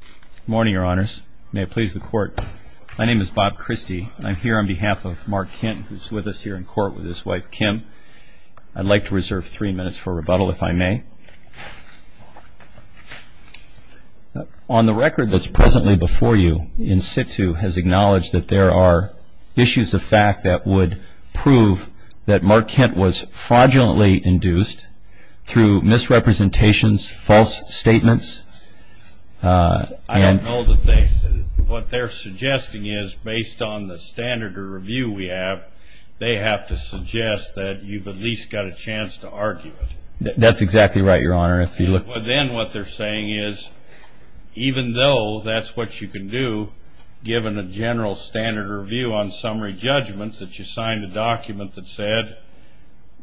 Good morning, Your Honors. May it please the Court, my name is Bob Christie. I'm here on behalf of Mark Kent, who's with us here in court with his wife, Kim. I'd like to reserve three minutes for rebuttal, if I may. On the record that's presently before you, Insitu has acknowledged that there are issues of fact that would prove that Mark Kent was fraudulently induced through misrepresentations, false statements, and... I don't know that they... What they're suggesting is, based on the standard of review we have, they have to suggest that you've at least got a chance to argue it. That's exactly right, Your Honor. If you look... Even though that's what you can do, given the general standard of review on summary judgment, that you signed a document that said,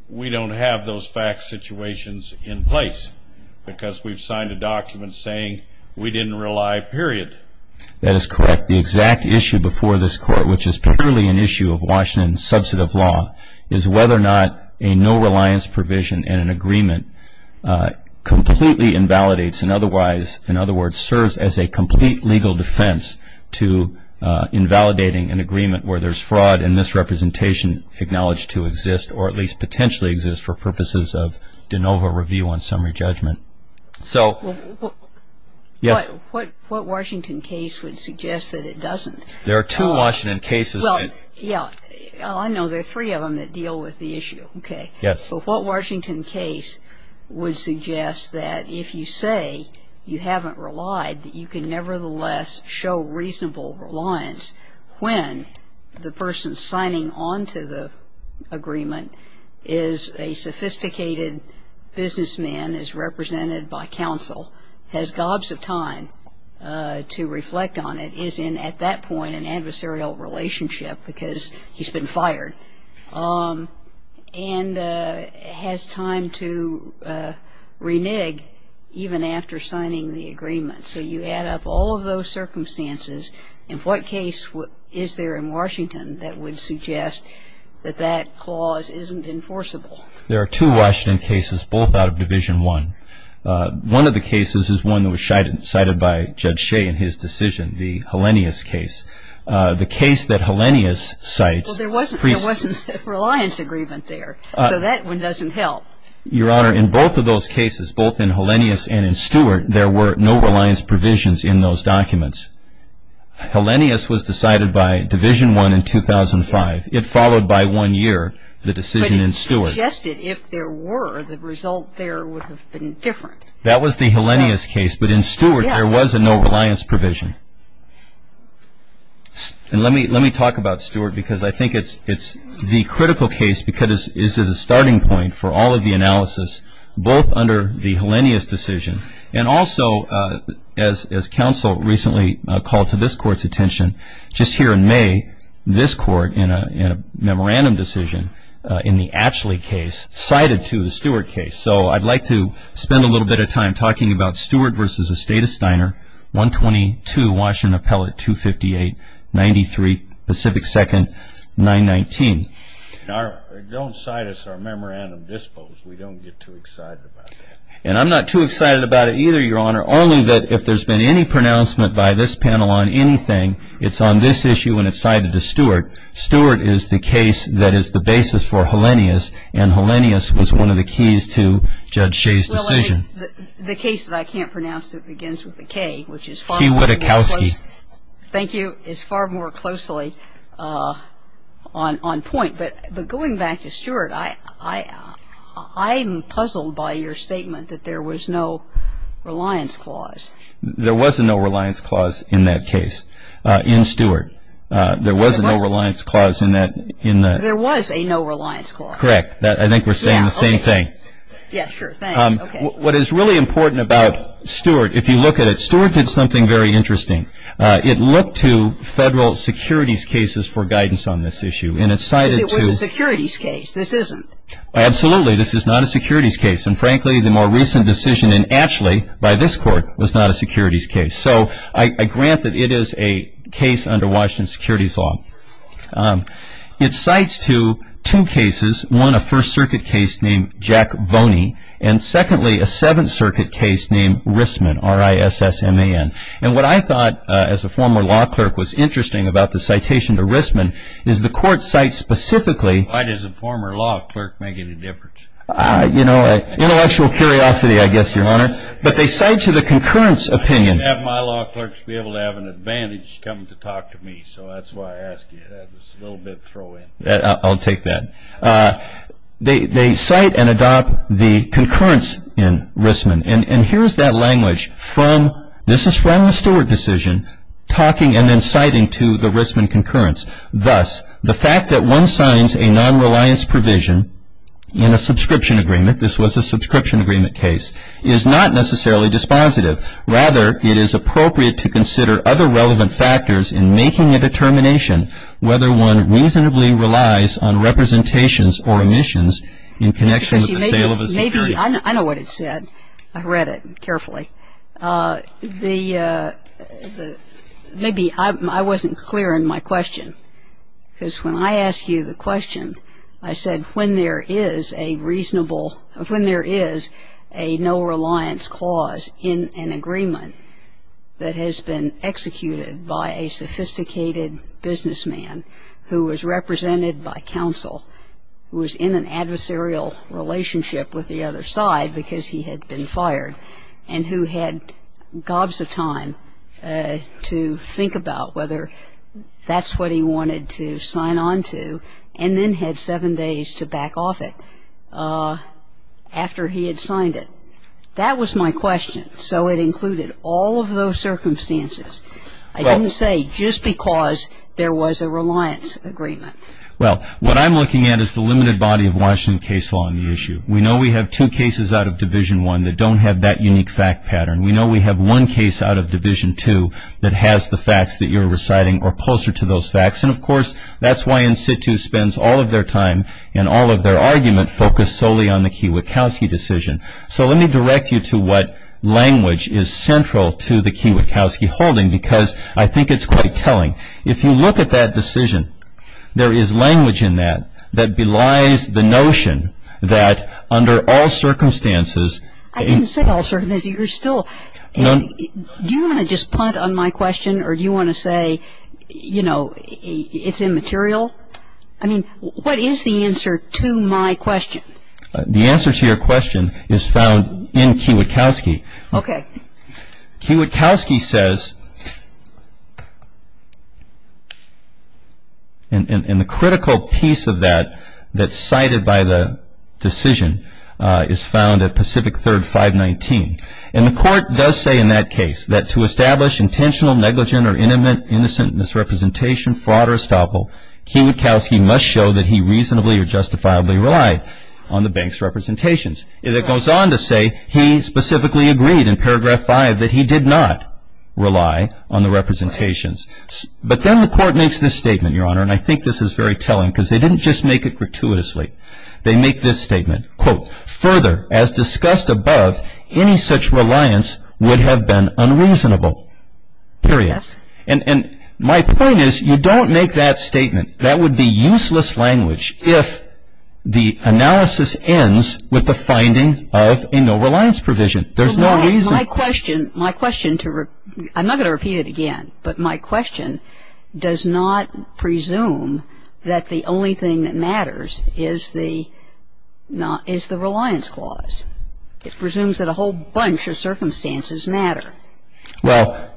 we don't have those fact situations in place, because we've signed a document saying we didn't rely, period. That is correct. The exact issue before this Court, which is purely an issue of Washington's subset of law, is whether or not a no-reliance provision in an agreement completely invalidates, and otherwise, in other words, serves as a complete legal defense to invalidating an agreement where there's fraud and misrepresentation acknowledged to exist, or at least potentially exist for purposes of de novo review on summary judgment. So... What Washington case would suggest that it doesn't? There are two Washington cases that... Yeah. I know there are three of them that deal with the issue. Okay. Yes. But what Washington case would suggest that if you say you haven't relied, that you can nevertheless show reasonable reliance when the person signing onto the agreement is a sophisticated businessman, is represented by counsel, has gobs of time to reflect on it, is in, at that point, an adversarial relationship, because he's been fired, and has time to renege even after signing the agreement. So you add up all of those circumstances. In what case is there in Washington that would suggest that that clause isn't enforceable? There are two Washington cases, both out of Division I. One of the cases is one that was cited by Judge Shea in his decision, the Hellenius case. The case that Hellenius cites... Well, there wasn't a reliance agreement there. So that one doesn't help. Your Honor, in both of those cases, both in Hellenius and in Stewart, there were no reliance provisions in those documents. Hellenius was decided by Division I in 2005. It followed by one year, the decision in Stewart. But it suggested if there were, the result there would have been different. That was the Hellenius case, but in Stewart, there was a no reliance provision. And let me talk about Stewart, because I think it's the critical case, because it's the starting point for all of the analysis, both under the Hellenius decision, and also as counsel recently called to this Court's attention, just here in May, this Court, in a memorandum decision in the Atchley case, cited to the Stewart case. So I'd like to spend a little bit of time talking about Stewart v. Estate of Steiner, 122 Washington Appellate 258, 93 Pacific 2nd, 919. Don't cite us our memorandum dispos. We don't get too excited about that. And I'm not too excited about it either, Your Honor, only that if there's been any pronouncement by this panel on anything, it's on this issue when it's cited to Stewart. Stewart is the case that is the basis for Hellenius, and Hellenius was one of the keys to Judge Shea's decision. Well, the case that I can't pronounce that begins with a K, which is far more close. Shea Witokowski. Thank you. It's far more closely on point. But going back to Stewart, I am puzzled by your statement that there was no reliance clause. There was a no reliance clause in that case, in Stewart. There was a no reliance clause in that. There was a no reliance clause. Correct. I think we're saying the same thing. Yeah, sure. Thanks. Okay. What is really important about Stewart, if you look at it, Stewart did something very interesting. It looked to federal securities cases for guidance on this issue. Because it was a securities case. This isn't. Absolutely. This is not a securities case. And, frankly, the more recent decision in Ashley by this Court was not a securities case. So I grant that it is a case under Washington's securities law. It cites to two cases. One, a First Circuit case named Jack Voney. And, secondly, a Seventh Circuit case named Rissman, R-I-S-S-M-A-N. And what I thought, as a former law clerk, was interesting about the citation to Rissman is the Court cites specifically. Why does a former law clerk make any difference? You know, intellectual curiosity, I guess, Your Honor. But they cite to the concurrence opinion. I have my law clerks be able to have an advantage coming to talk to me. So that's why I ask you that. It's a little bit throw-in. I'll take that. They cite and adopt the concurrence in Rissman. And here's that language. This is from the Stewart decision, talking and then citing to the Rissman concurrence. Thus, the fact that one signs a nonreliance provision in a subscription agreement, this was a subscription agreement case, is not necessarily dispositive. Rather, it is appropriate to consider other relevant factors in making a determination whether one reasonably relies on representations or omissions in connection with the sale of a subscription. I know what it said. I've read it carefully. Maybe I wasn't clear in my question, because when I asked you the question, I said when there is a reasonable or when there is a no-reliance clause in an agreement that has been executed by a sophisticated businessman who was represented by counsel, who was in an adversarial relationship with the other side because he had been fired, and who had gobs of time to think about whether that's what he wanted to sign on to and then had seven days to back off it after he had signed it. That was my question. So it included all of those circumstances. I didn't say just because there was a reliance agreement. Well, what I'm looking at is the limited body of Washington case law on the issue. We know we have two cases out of Division I that don't have that unique fact pattern. We know we have one case out of Division II that has the facts that you're reciting or closer to those facts. And, of course, that's why in situ spends all of their time and all of their argument focused solely on the Kiewitkowski decision. So let me direct you to what language is central to the Kiewitkowski holding, because I think it's quite telling. If you look at that decision, there is language in that that belies the notion that under all circumstances. I didn't say all circumstances. Do you want to just punt on my question or do you want to say, you know, it's immaterial? I mean, what is the answer to my question? The answer to your question is found in Kiewitkowski. Okay. Kiewitkowski says, and the critical piece of that that's cited by the decision is found at Pacific Third 519. And the court does say in that case that to establish intentional, negligent, or innocent misrepresentation, fraud, or estoppel, Kiewitkowski must show that he reasonably or justifiably relied on the bank's representations. It goes on to say he specifically agreed in paragraph five that he did not rely on the representations. But then the court makes this statement, Your Honor, and I think this is very telling because they didn't just make it gratuitously. They make this statement. Quote, further, as discussed above, any such reliance would have been unreasonable. Period. And my point is you don't make that statement. That would be useless language if the analysis ends with the finding of a no reliance provision. There's no reason. My question, my question, I'm not going to repeat it again, but my question does not presume that the only thing that matters is the reliance clause. It presumes that a whole bunch of circumstances matter. Well,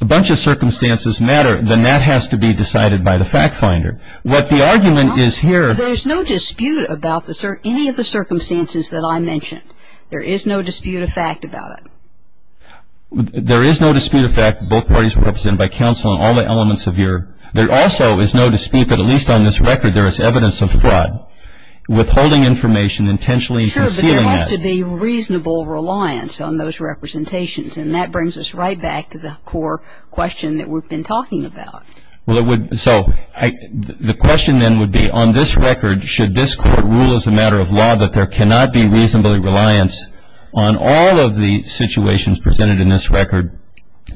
a bunch of circumstances matter, then that has to be decided by the fact finder. What the argument is here. There's no dispute about any of the circumstances that I mentioned. There is no dispute of fact about it. There is no dispute of fact that both parties were represented by counsel on all the elements of your. There also is no dispute that at least on this record there is evidence of fraud, withholding information, intentionally concealing that. There has to be reasonable reliance on those representations, and that brings us right back to the core question that we've been talking about. So the question then would be on this record, should this court rule as a matter of law that there cannot be reasonably reliance on all of the situations presented in this record,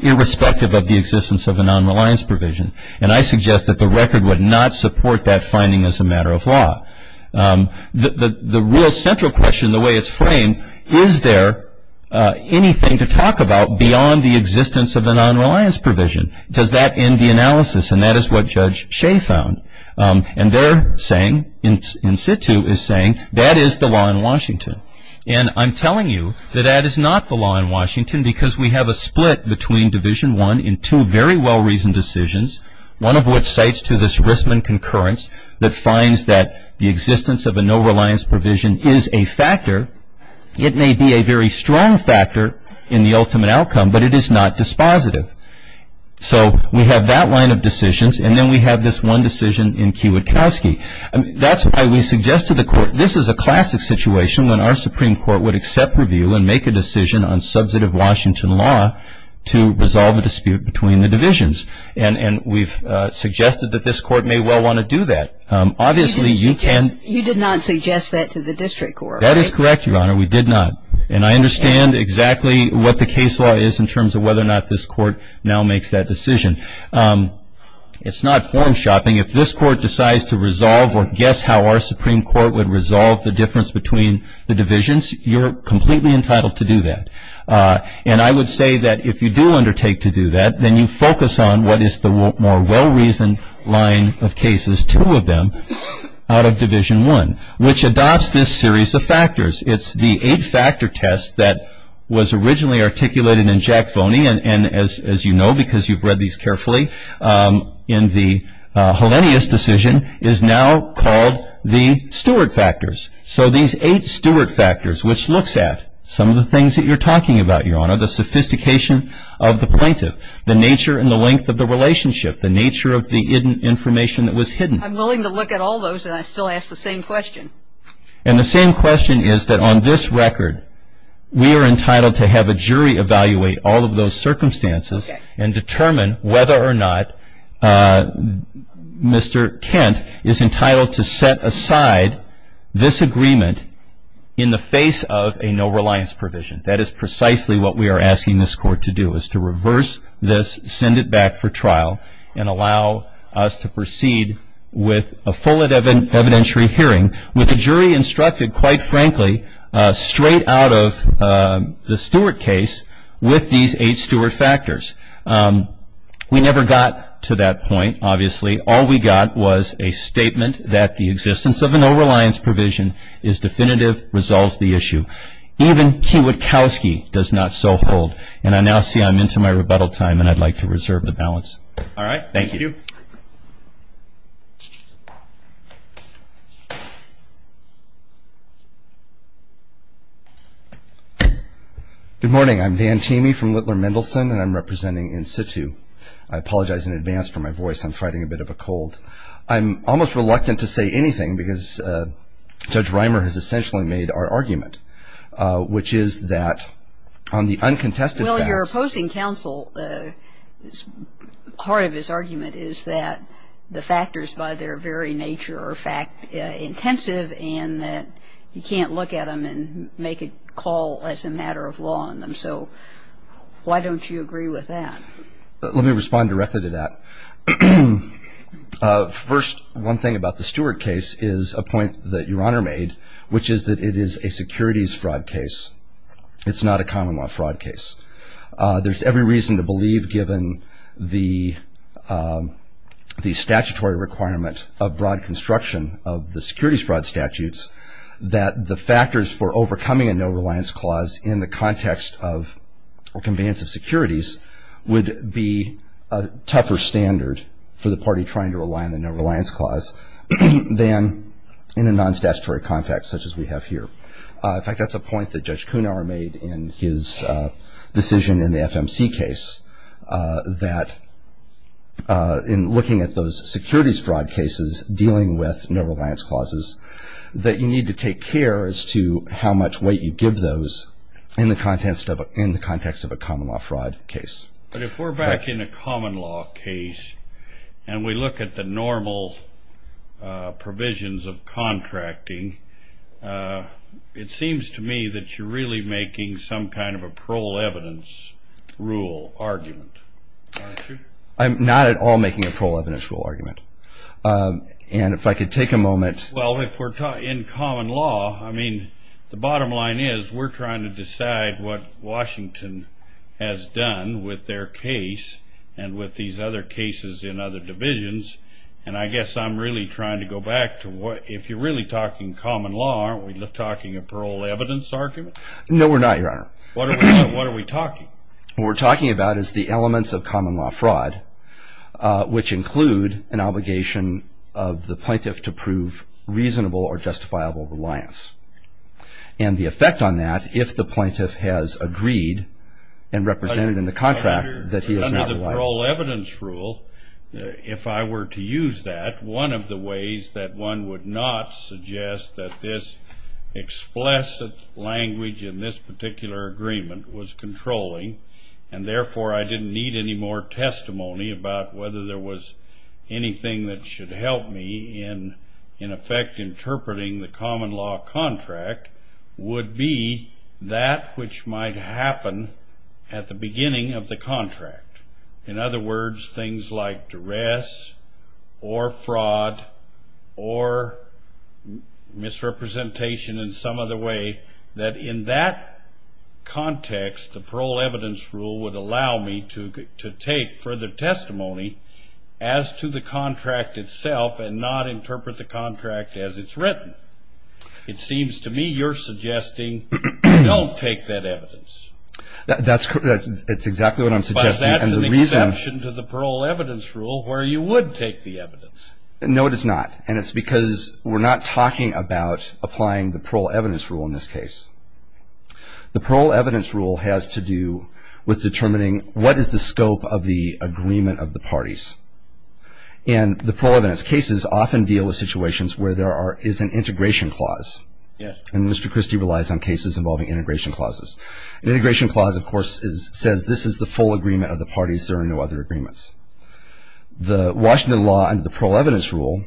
irrespective of the existence of a non-reliance provision? And I suggest that the record would not support that finding as a matter of law. The real central question, the way it's framed, is there anything to talk about beyond the existence of a non-reliance provision? Does that end the analysis? And that is what Judge Shea found. And they're saying, in situ is saying, that is the law in Washington. And I'm telling you that that is not the law in Washington, because we have a split between Division I in two very well-reasoned decisions, one of which cites to this Rissman concurrence that finds that the existence of a no-reliance provision is a factor. It may be a very strong factor in the ultimate outcome, but it is not dispositive. So we have that line of decisions, and then we have this one decision in Kiewitkowski. That's why we suggest to the court, this is a classic situation, when our Supreme Court would accept review and make a decision on substantive Washington law to resolve a dispute between the divisions. And we've suggested that this court may well want to do that. You did not suggest that to the district court, right? That is correct, Your Honor. We did not. And I understand exactly what the case law is in terms of whether or not this court now makes that decision. It's not form shopping. If this court decides to resolve or guess how our Supreme Court would resolve the difference between the divisions, you're completely entitled to do that. And I would say that if you do undertake to do that, then you focus on what is the more well-reasoned line of cases, two of them, out of Division I, which adopts this series of factors. It's the eight-factor test that was originally articulated in Jack Phoney, and as you know because you've read these carefully, in the Hellenius decision is now called the Stuart factors. So these eight Stuart factors, which looks at some of the things that you're talking about, Your Honor, the sophistication of the plaintiff, the nature and the length of the relationship, the nature of the information that was hidden. I'm willing to look at all those, and I still ask the same question. And the same question is that on this record, we are entitled to have a jury evaluate all of those circumstances and determine whether or not Mr. Kent is entitled to set aside this agreement in the face of a no-reliance provision. That is precisely what we are asking this Court to do, is to reverse this, send it back for trial, and allow us to proceed with a full and evidentiary hearing with the jury instructed, quite frankly, straight out of the Stuart case with these eight Stuart factors. We never got to that point, obviously. All we got was a statement that the existence of a no-reliance provision is definitive, resolves the issue. Even Kiewitkowski does not so hold. And I now see I'm into my rebuttal time, and I'd like to reserve the balance. All right. Thank you. Good morning. I'm Dan Tamey from Whitler Mendelson, and I'm representing in situ. I apologize in advance for my voice. I'm fighting a bit of a cold. I'm almost reluctant to say anything, because Judge Reimer has essentially made our argument, which is that on the uncontested facts. Well, your opposing counsel, part of his argument is that the factors by their very nature are fact intensive and that you can't look at them and make a call as a matter of law on them. So why don't you agree with that? Let me respond directly to that. First, one thing about the Stewart case is a point that your Honor made, which is that it is a securities fraud case. It's not a common law fraud case. There's every reason to believe, given the statutory requirement of broad construction of the securities fraud statutes, that the factors for overcoming a no-reliance clause in the context of conveyance of securities would be a tougher standard for the party trying to rely on the no-reliance clause than in a non-statutory context such as we have here. In fact, that's a point that Judge Kunauer made in his decision in the FMC case, that in looking at those securities fraud cases dealing with no-reliance clauses, that you need to take care as to how much weight you give those in the context of a common law fraud case. But if we're back in a common law case and we look at the normal provisions of contracting, it seems to me that you're really making some kind of a parole evidence rule argument, aren't you? I'm not at all making a parole evidence rule argument. And if I could take a moment. Well, if we're in common law, I mean, the bottom line is we're trying to decide what Washington has done with their case and with these other cases in other divisions. And I guess I'm really trying to go back to if you're really talking common law, aren't we talking a parole evidence argument? No, we're not, Your Honor. What are we talking? What we're talking about is the elements of common law fraud, which include an obligation of the plaintiff to prove reasonable or justifiable reliance, and the effect on that if the plaintiff has agreed and represented in the contract that he is not reliant. Under the parole evidence rule, if I were to use that, one of the ways that one would not suggest that this explicit language in this particular agreement was controlling, and therefore I didn't need any more testimony about whether there was anything that should help me in effect interpreting the common law contract would be that which might happen at the beginning of the contract. In other words, things like duress or fraud or misrepresentation in some other way, that in that context the parole evidence rule would allow me to take further testimony as to the contract itself and not interpret the contract as it's written. It seems to me you're suggesting don't take that evidence. That's exactly what I'm suggesting. Because that's an exception to the parole evidence rule where you would take the evidence. No, it is not. And it's because we're not talking about applying the parole evidence rule in this case. The parole evidence rule has to do with determining what is the scope of the agreement of the parties. And the parole evidence cases often deal with situations where there is an integration clause. And Mr. Christie relies on cases involving integration clauses. An integration clause, of course, says this is the full agreement of the parties. There are no other agreements. The Washington law under the parole evidence rule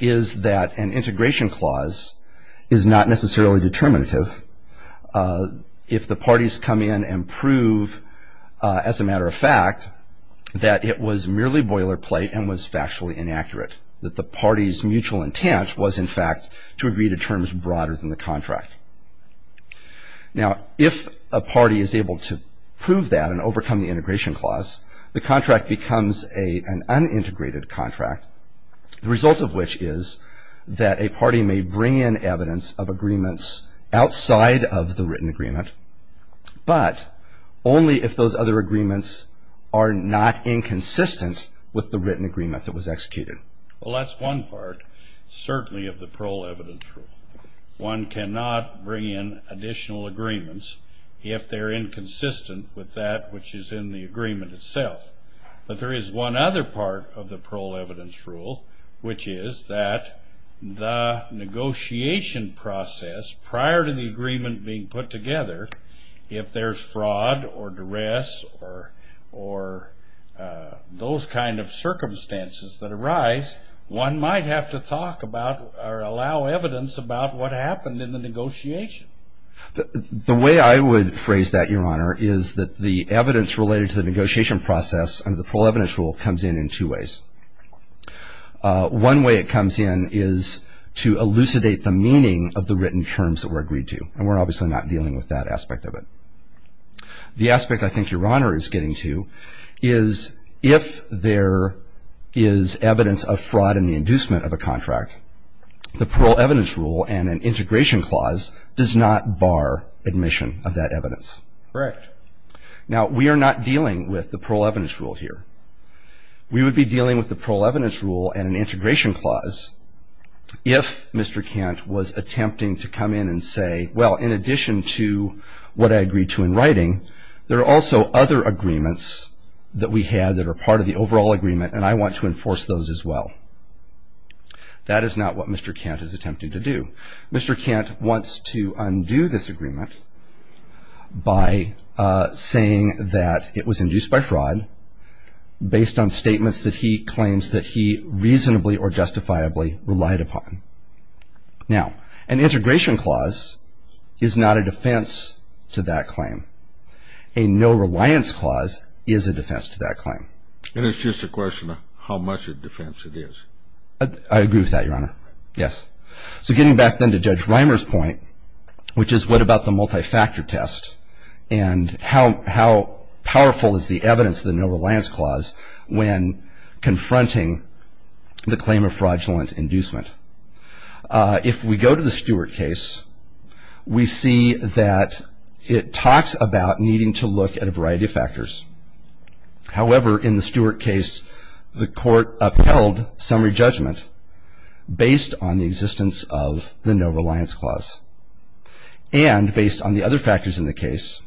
is that an integration clause is not necessarily determinative. If the parties come in and prove, as a matter of fact, that it was merely boilerplate and was factually inaccurate, that the party's mutual intent was, in fact, to agree to terms broader than the contract. Now, if a party is able to prove that and overcome the integration clause, the contract becomes an unintegrated contract, the result of which is that a party may bring in evidence of agreements outside of the written agreement, but only if those other agreements are not inconsistent with the written agreement that was executed. Well, that's one part, certainly, of the parole evidence rule. One cannot bring in additional agreements if they're inconsistent with that which is in the agreement itself. But there is one other part of the parole evidence rule, which is that the negotiation process prior to the agreement being put together, if there's fraud or duress or those kind of circumstances that arise, one might have to talk about or allow evidence about what happened in the negotiation. The way I would phrase that, Your Honor, is that the evidence related to the negotiation process under the parole evidence rule comes in in two ways. One way it comes in is to elucidate the meaning of the written terms that were agreed to, and we're obviously not dealing with that aspect of it. The aspect I think Your Honor is getting to is if there is evidence of fraud in the inducement of a contract, the parole evidence rule and an integration clause does not bar admission of that evidence. Correct. Now, we are not dealing with the parole evidence rule here. We would be dealing with the parole evidence rule and an integration clause if Mr. Kent was attempting to come in and say, well, in addition to what I agreed to in writing, there are also other agreements that we had that are part of the overall agreement, and I want to enforce those as well. That is not what Mr. Kent is attempting to do. Mr. Kent wants to undo this agreement by saying that it was induced by fraud based on statements that he claims that he reasonably or justifiably relied upon. Now, an integration clause is not a defense to that claim. A no-reliance clause is a defense to that claim. And it's just a question of how much of a defense it is. I agree with that, Your Honor. Yes. So getting back then to Judge Reimer's point, which is what about the multi-factor test and how powerful is the evidence of the no-reliance clause when confronting the claim of fraudulent inducement? If we go to the Stewart case, we see that it talks about needing to look at a variety of factors. However, in the Stewart case, the court upheld summary judgment based on the existence of the no-reliance clause and based on the other factors in the case,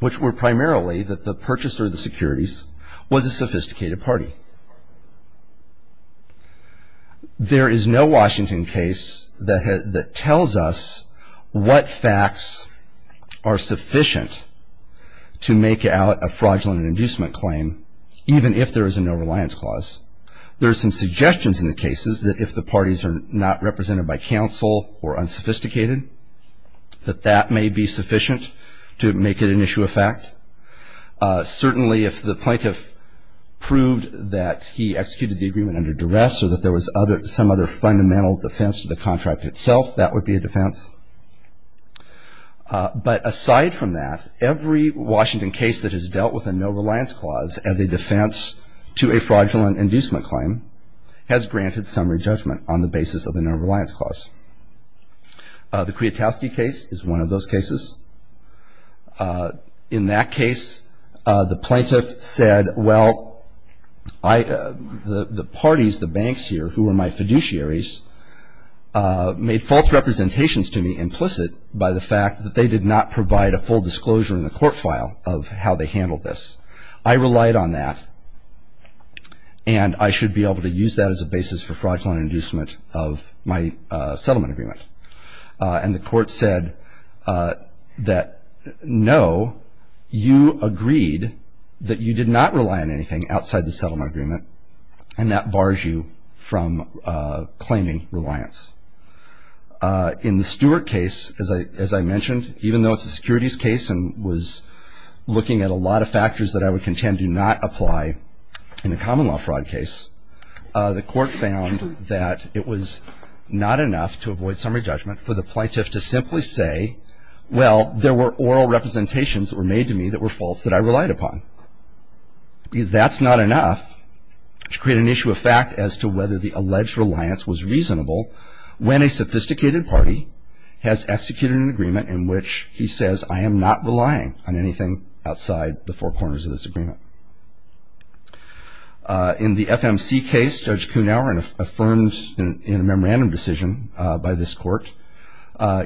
which were primarily that the purchaser of the securities was a sophisticated party. There is no Washington case that tells us what facts are sufficient to make out a fraudulent inducement claim, even if there is a no-reliance clause. There are some suggestions in the cases that if the parties are not represented by counsel or unsophisticated, that that may be sufficient to make it an issue of fact. Certainly, if the plaintiff proved that he executed the agreement under duress or that there was some other fundamental defense to the contract itself, that would be a defense. But aside from that, every Washington case that has dealt with a no-reliance clause as a defense to a fraudulent inducement claim has granted summary judgment on the basis of a no-reliance clause. The Kwiatkowski case is one of those cases. In that case, the plaintiff said, well, the parties, the banks here, who were my fiduciaries, made false representations to me implicit by the fact that they did not provide a full disclosure in the court file of how they handled this. I relied on that, and I should be able to use that as a basis for fraudulent inducement of my settlement agreement. And the court said that, no, you agreed that you did not rely on anything outside the settlement agreement, and that bars you from claiming reliance. In the Stewart case, as I mentioned, even though it's a securities case and was looking at a lot of factors that I would contend do not apply in a common law fraud case, the court found that it was not enough to avoid summary judgment for the plaintiff to simply say, well, there were oral representations that were made to me that were false that I relied upon. Because that's not enough to create an issue of fact as to whether the alleged reliance was reasonable when a sophisticated party has executed an agreement in which he says, I am not relying on anything outside the four corners of this agreement. In the FMC case, Judge Kuhnauer, affirmed in a memorandum decision by this court,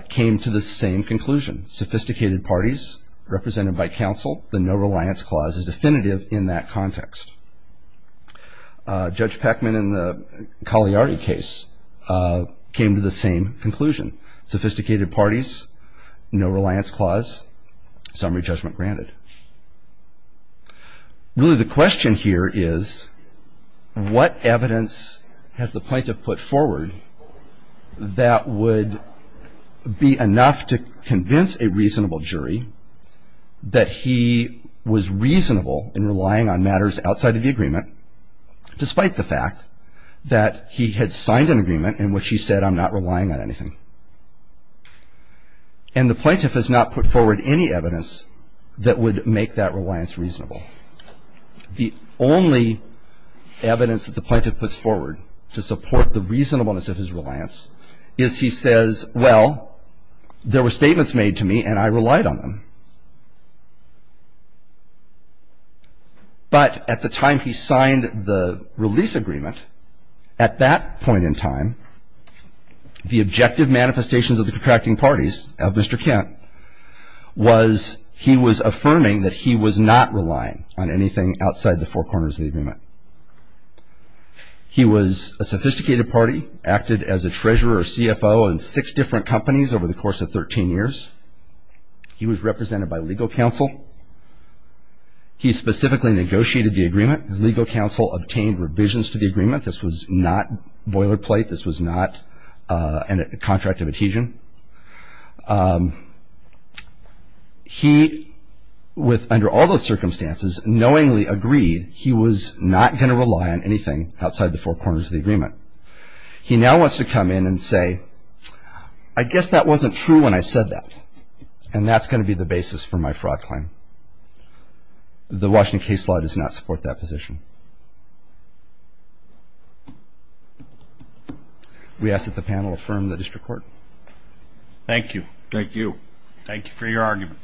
came to the same conclusion. Sophisticated parties represented by counsel, the no reliance clause is definitive in that context. Judge Peckman in the Cagliari case came to the same conclusion. Sophisticated parties, no reliance clause, summary judgment granted. Really the question here is, what evidence has the plaintiff put forward that would be enough to convince a reasonable jury that he was reasonable in relying on matters outside of the agreement, despite the fact that he had signed an agreement in which he said, I'm not relying on anything. And the plaintiff has not put forward any evidence that would make that reliance reasonable. The only evidence that the plaintiff puts forward to support the reasonableness of his reliance is he says, well, there were statements made to me and I relied on them. But at the time he signed the release agreement, at that point in time, the objective manifestations of the contracting parties of Mr. Kent was he was affirming that he was not relying on anything outside the four corners of the agreement. He was a sophisticated party, acted as a treasurer or CFO in six different companies over the course of 13 years. He was represented by legal counsel. He specifically negotiated the agreement. His legal counsel obtained revisions to the agreement. This was not boilerplate. This was not a contract of adhesion. He, under all those circumstances, knowingly agreed he was not going to rely on anything outside the four corners of the agreement. He now wants to come in and say, I guess that wasn't true when I said that, and that's going to be the basis for my fraud claim. The Washington case law does not support that position. We ask that the panel affirm the district court. Thank you. Thank you. Thank you for your argument.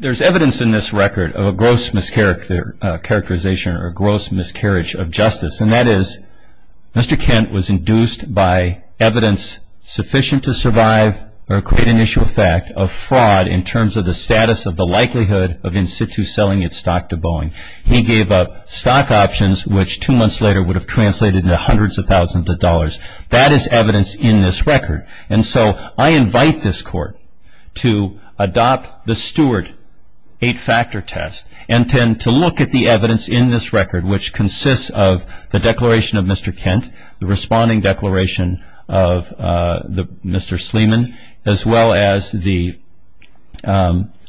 There's evidence in this record of a gross mischaracterization or gross miscarriage of justice. And that is, Mr. Kent was induced by evidence sufficient to survive or create an issue of fact of fraud in terms of the status of the likelihood of in situ selling its stock to Boeing. He gave up stock options, which two months later would have translated into hundreds of thousands of dollars. That is evidence in this record. And so I invite this court to adopt the Stewart eight-factor test and tend to look at the evidence in this record, which consists of the declaration of Mr. Kent, the responding declaration of Mr. Sleeman, as well as the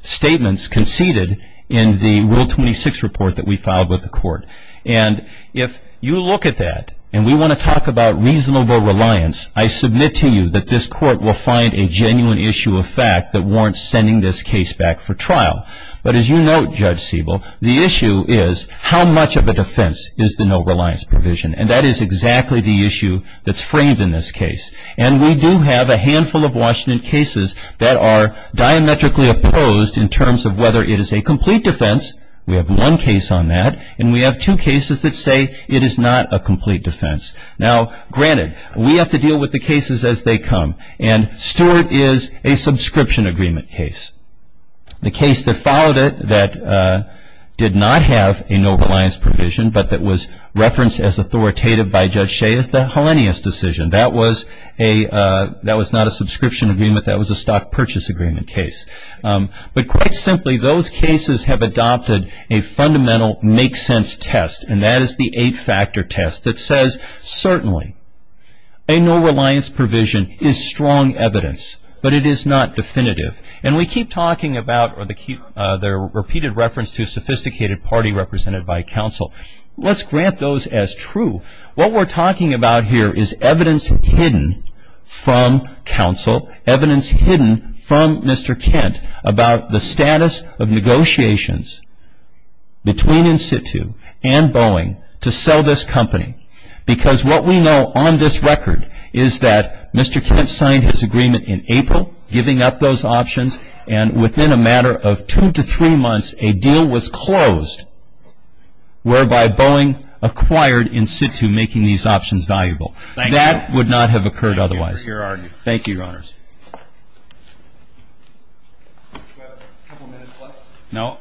statements conceded in the Rule 26 report that we filed with the court. And if you look at that and we want to talk about reasonable reliance, I submit to you that this court will find a genuine issue of fact that warrants sending this case back for trial. But as you know, Judge Siebel, the issue is how much of a defense is the no reliance provision. And that is exactly the issue that's framed in this case. And we do have a handful of Washington cases that are diametrically opposed in terms of whether it is a complete defense. We have one case on that. And we have two cases that say it is not a complete defense. Now, granted, we have to deal with the cases as they come. And Stewart is a subscription agreement case. The case that followed it that did not have a no reliance provision, but that was referenced as authoritative by Judge Shea, is the Hellenius decision. That was not a subscription agreement. That was a stock purchase agreement case. But quite simply, those cases have adopted a fundamental make sense test, and that is the eight-factor test that says, certainly a no reliance provision is strong evidence, but it is not definitive. And we keep talking about the repeated reference to a sophisticated party represented by counsel. Let's grant those as true. What we're talking about here is evidence hidden from counsel, evidence hidden from Mr. Kent about the status of negotiations between In-Situ and Boeing to sell this company. Because what we know on this record is that Mr. And within a matter of two to three months, a deal was closed whereby Boeing acquired In-Situ, making these options valuable. That would not have occurred otherwise. Thank you, Your Honors. Do we have a couple minutes left? No.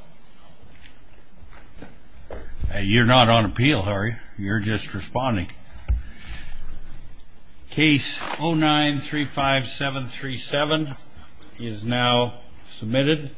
You're not on appeal, Harry. You're just responding. Case 09-35737 is now submitted.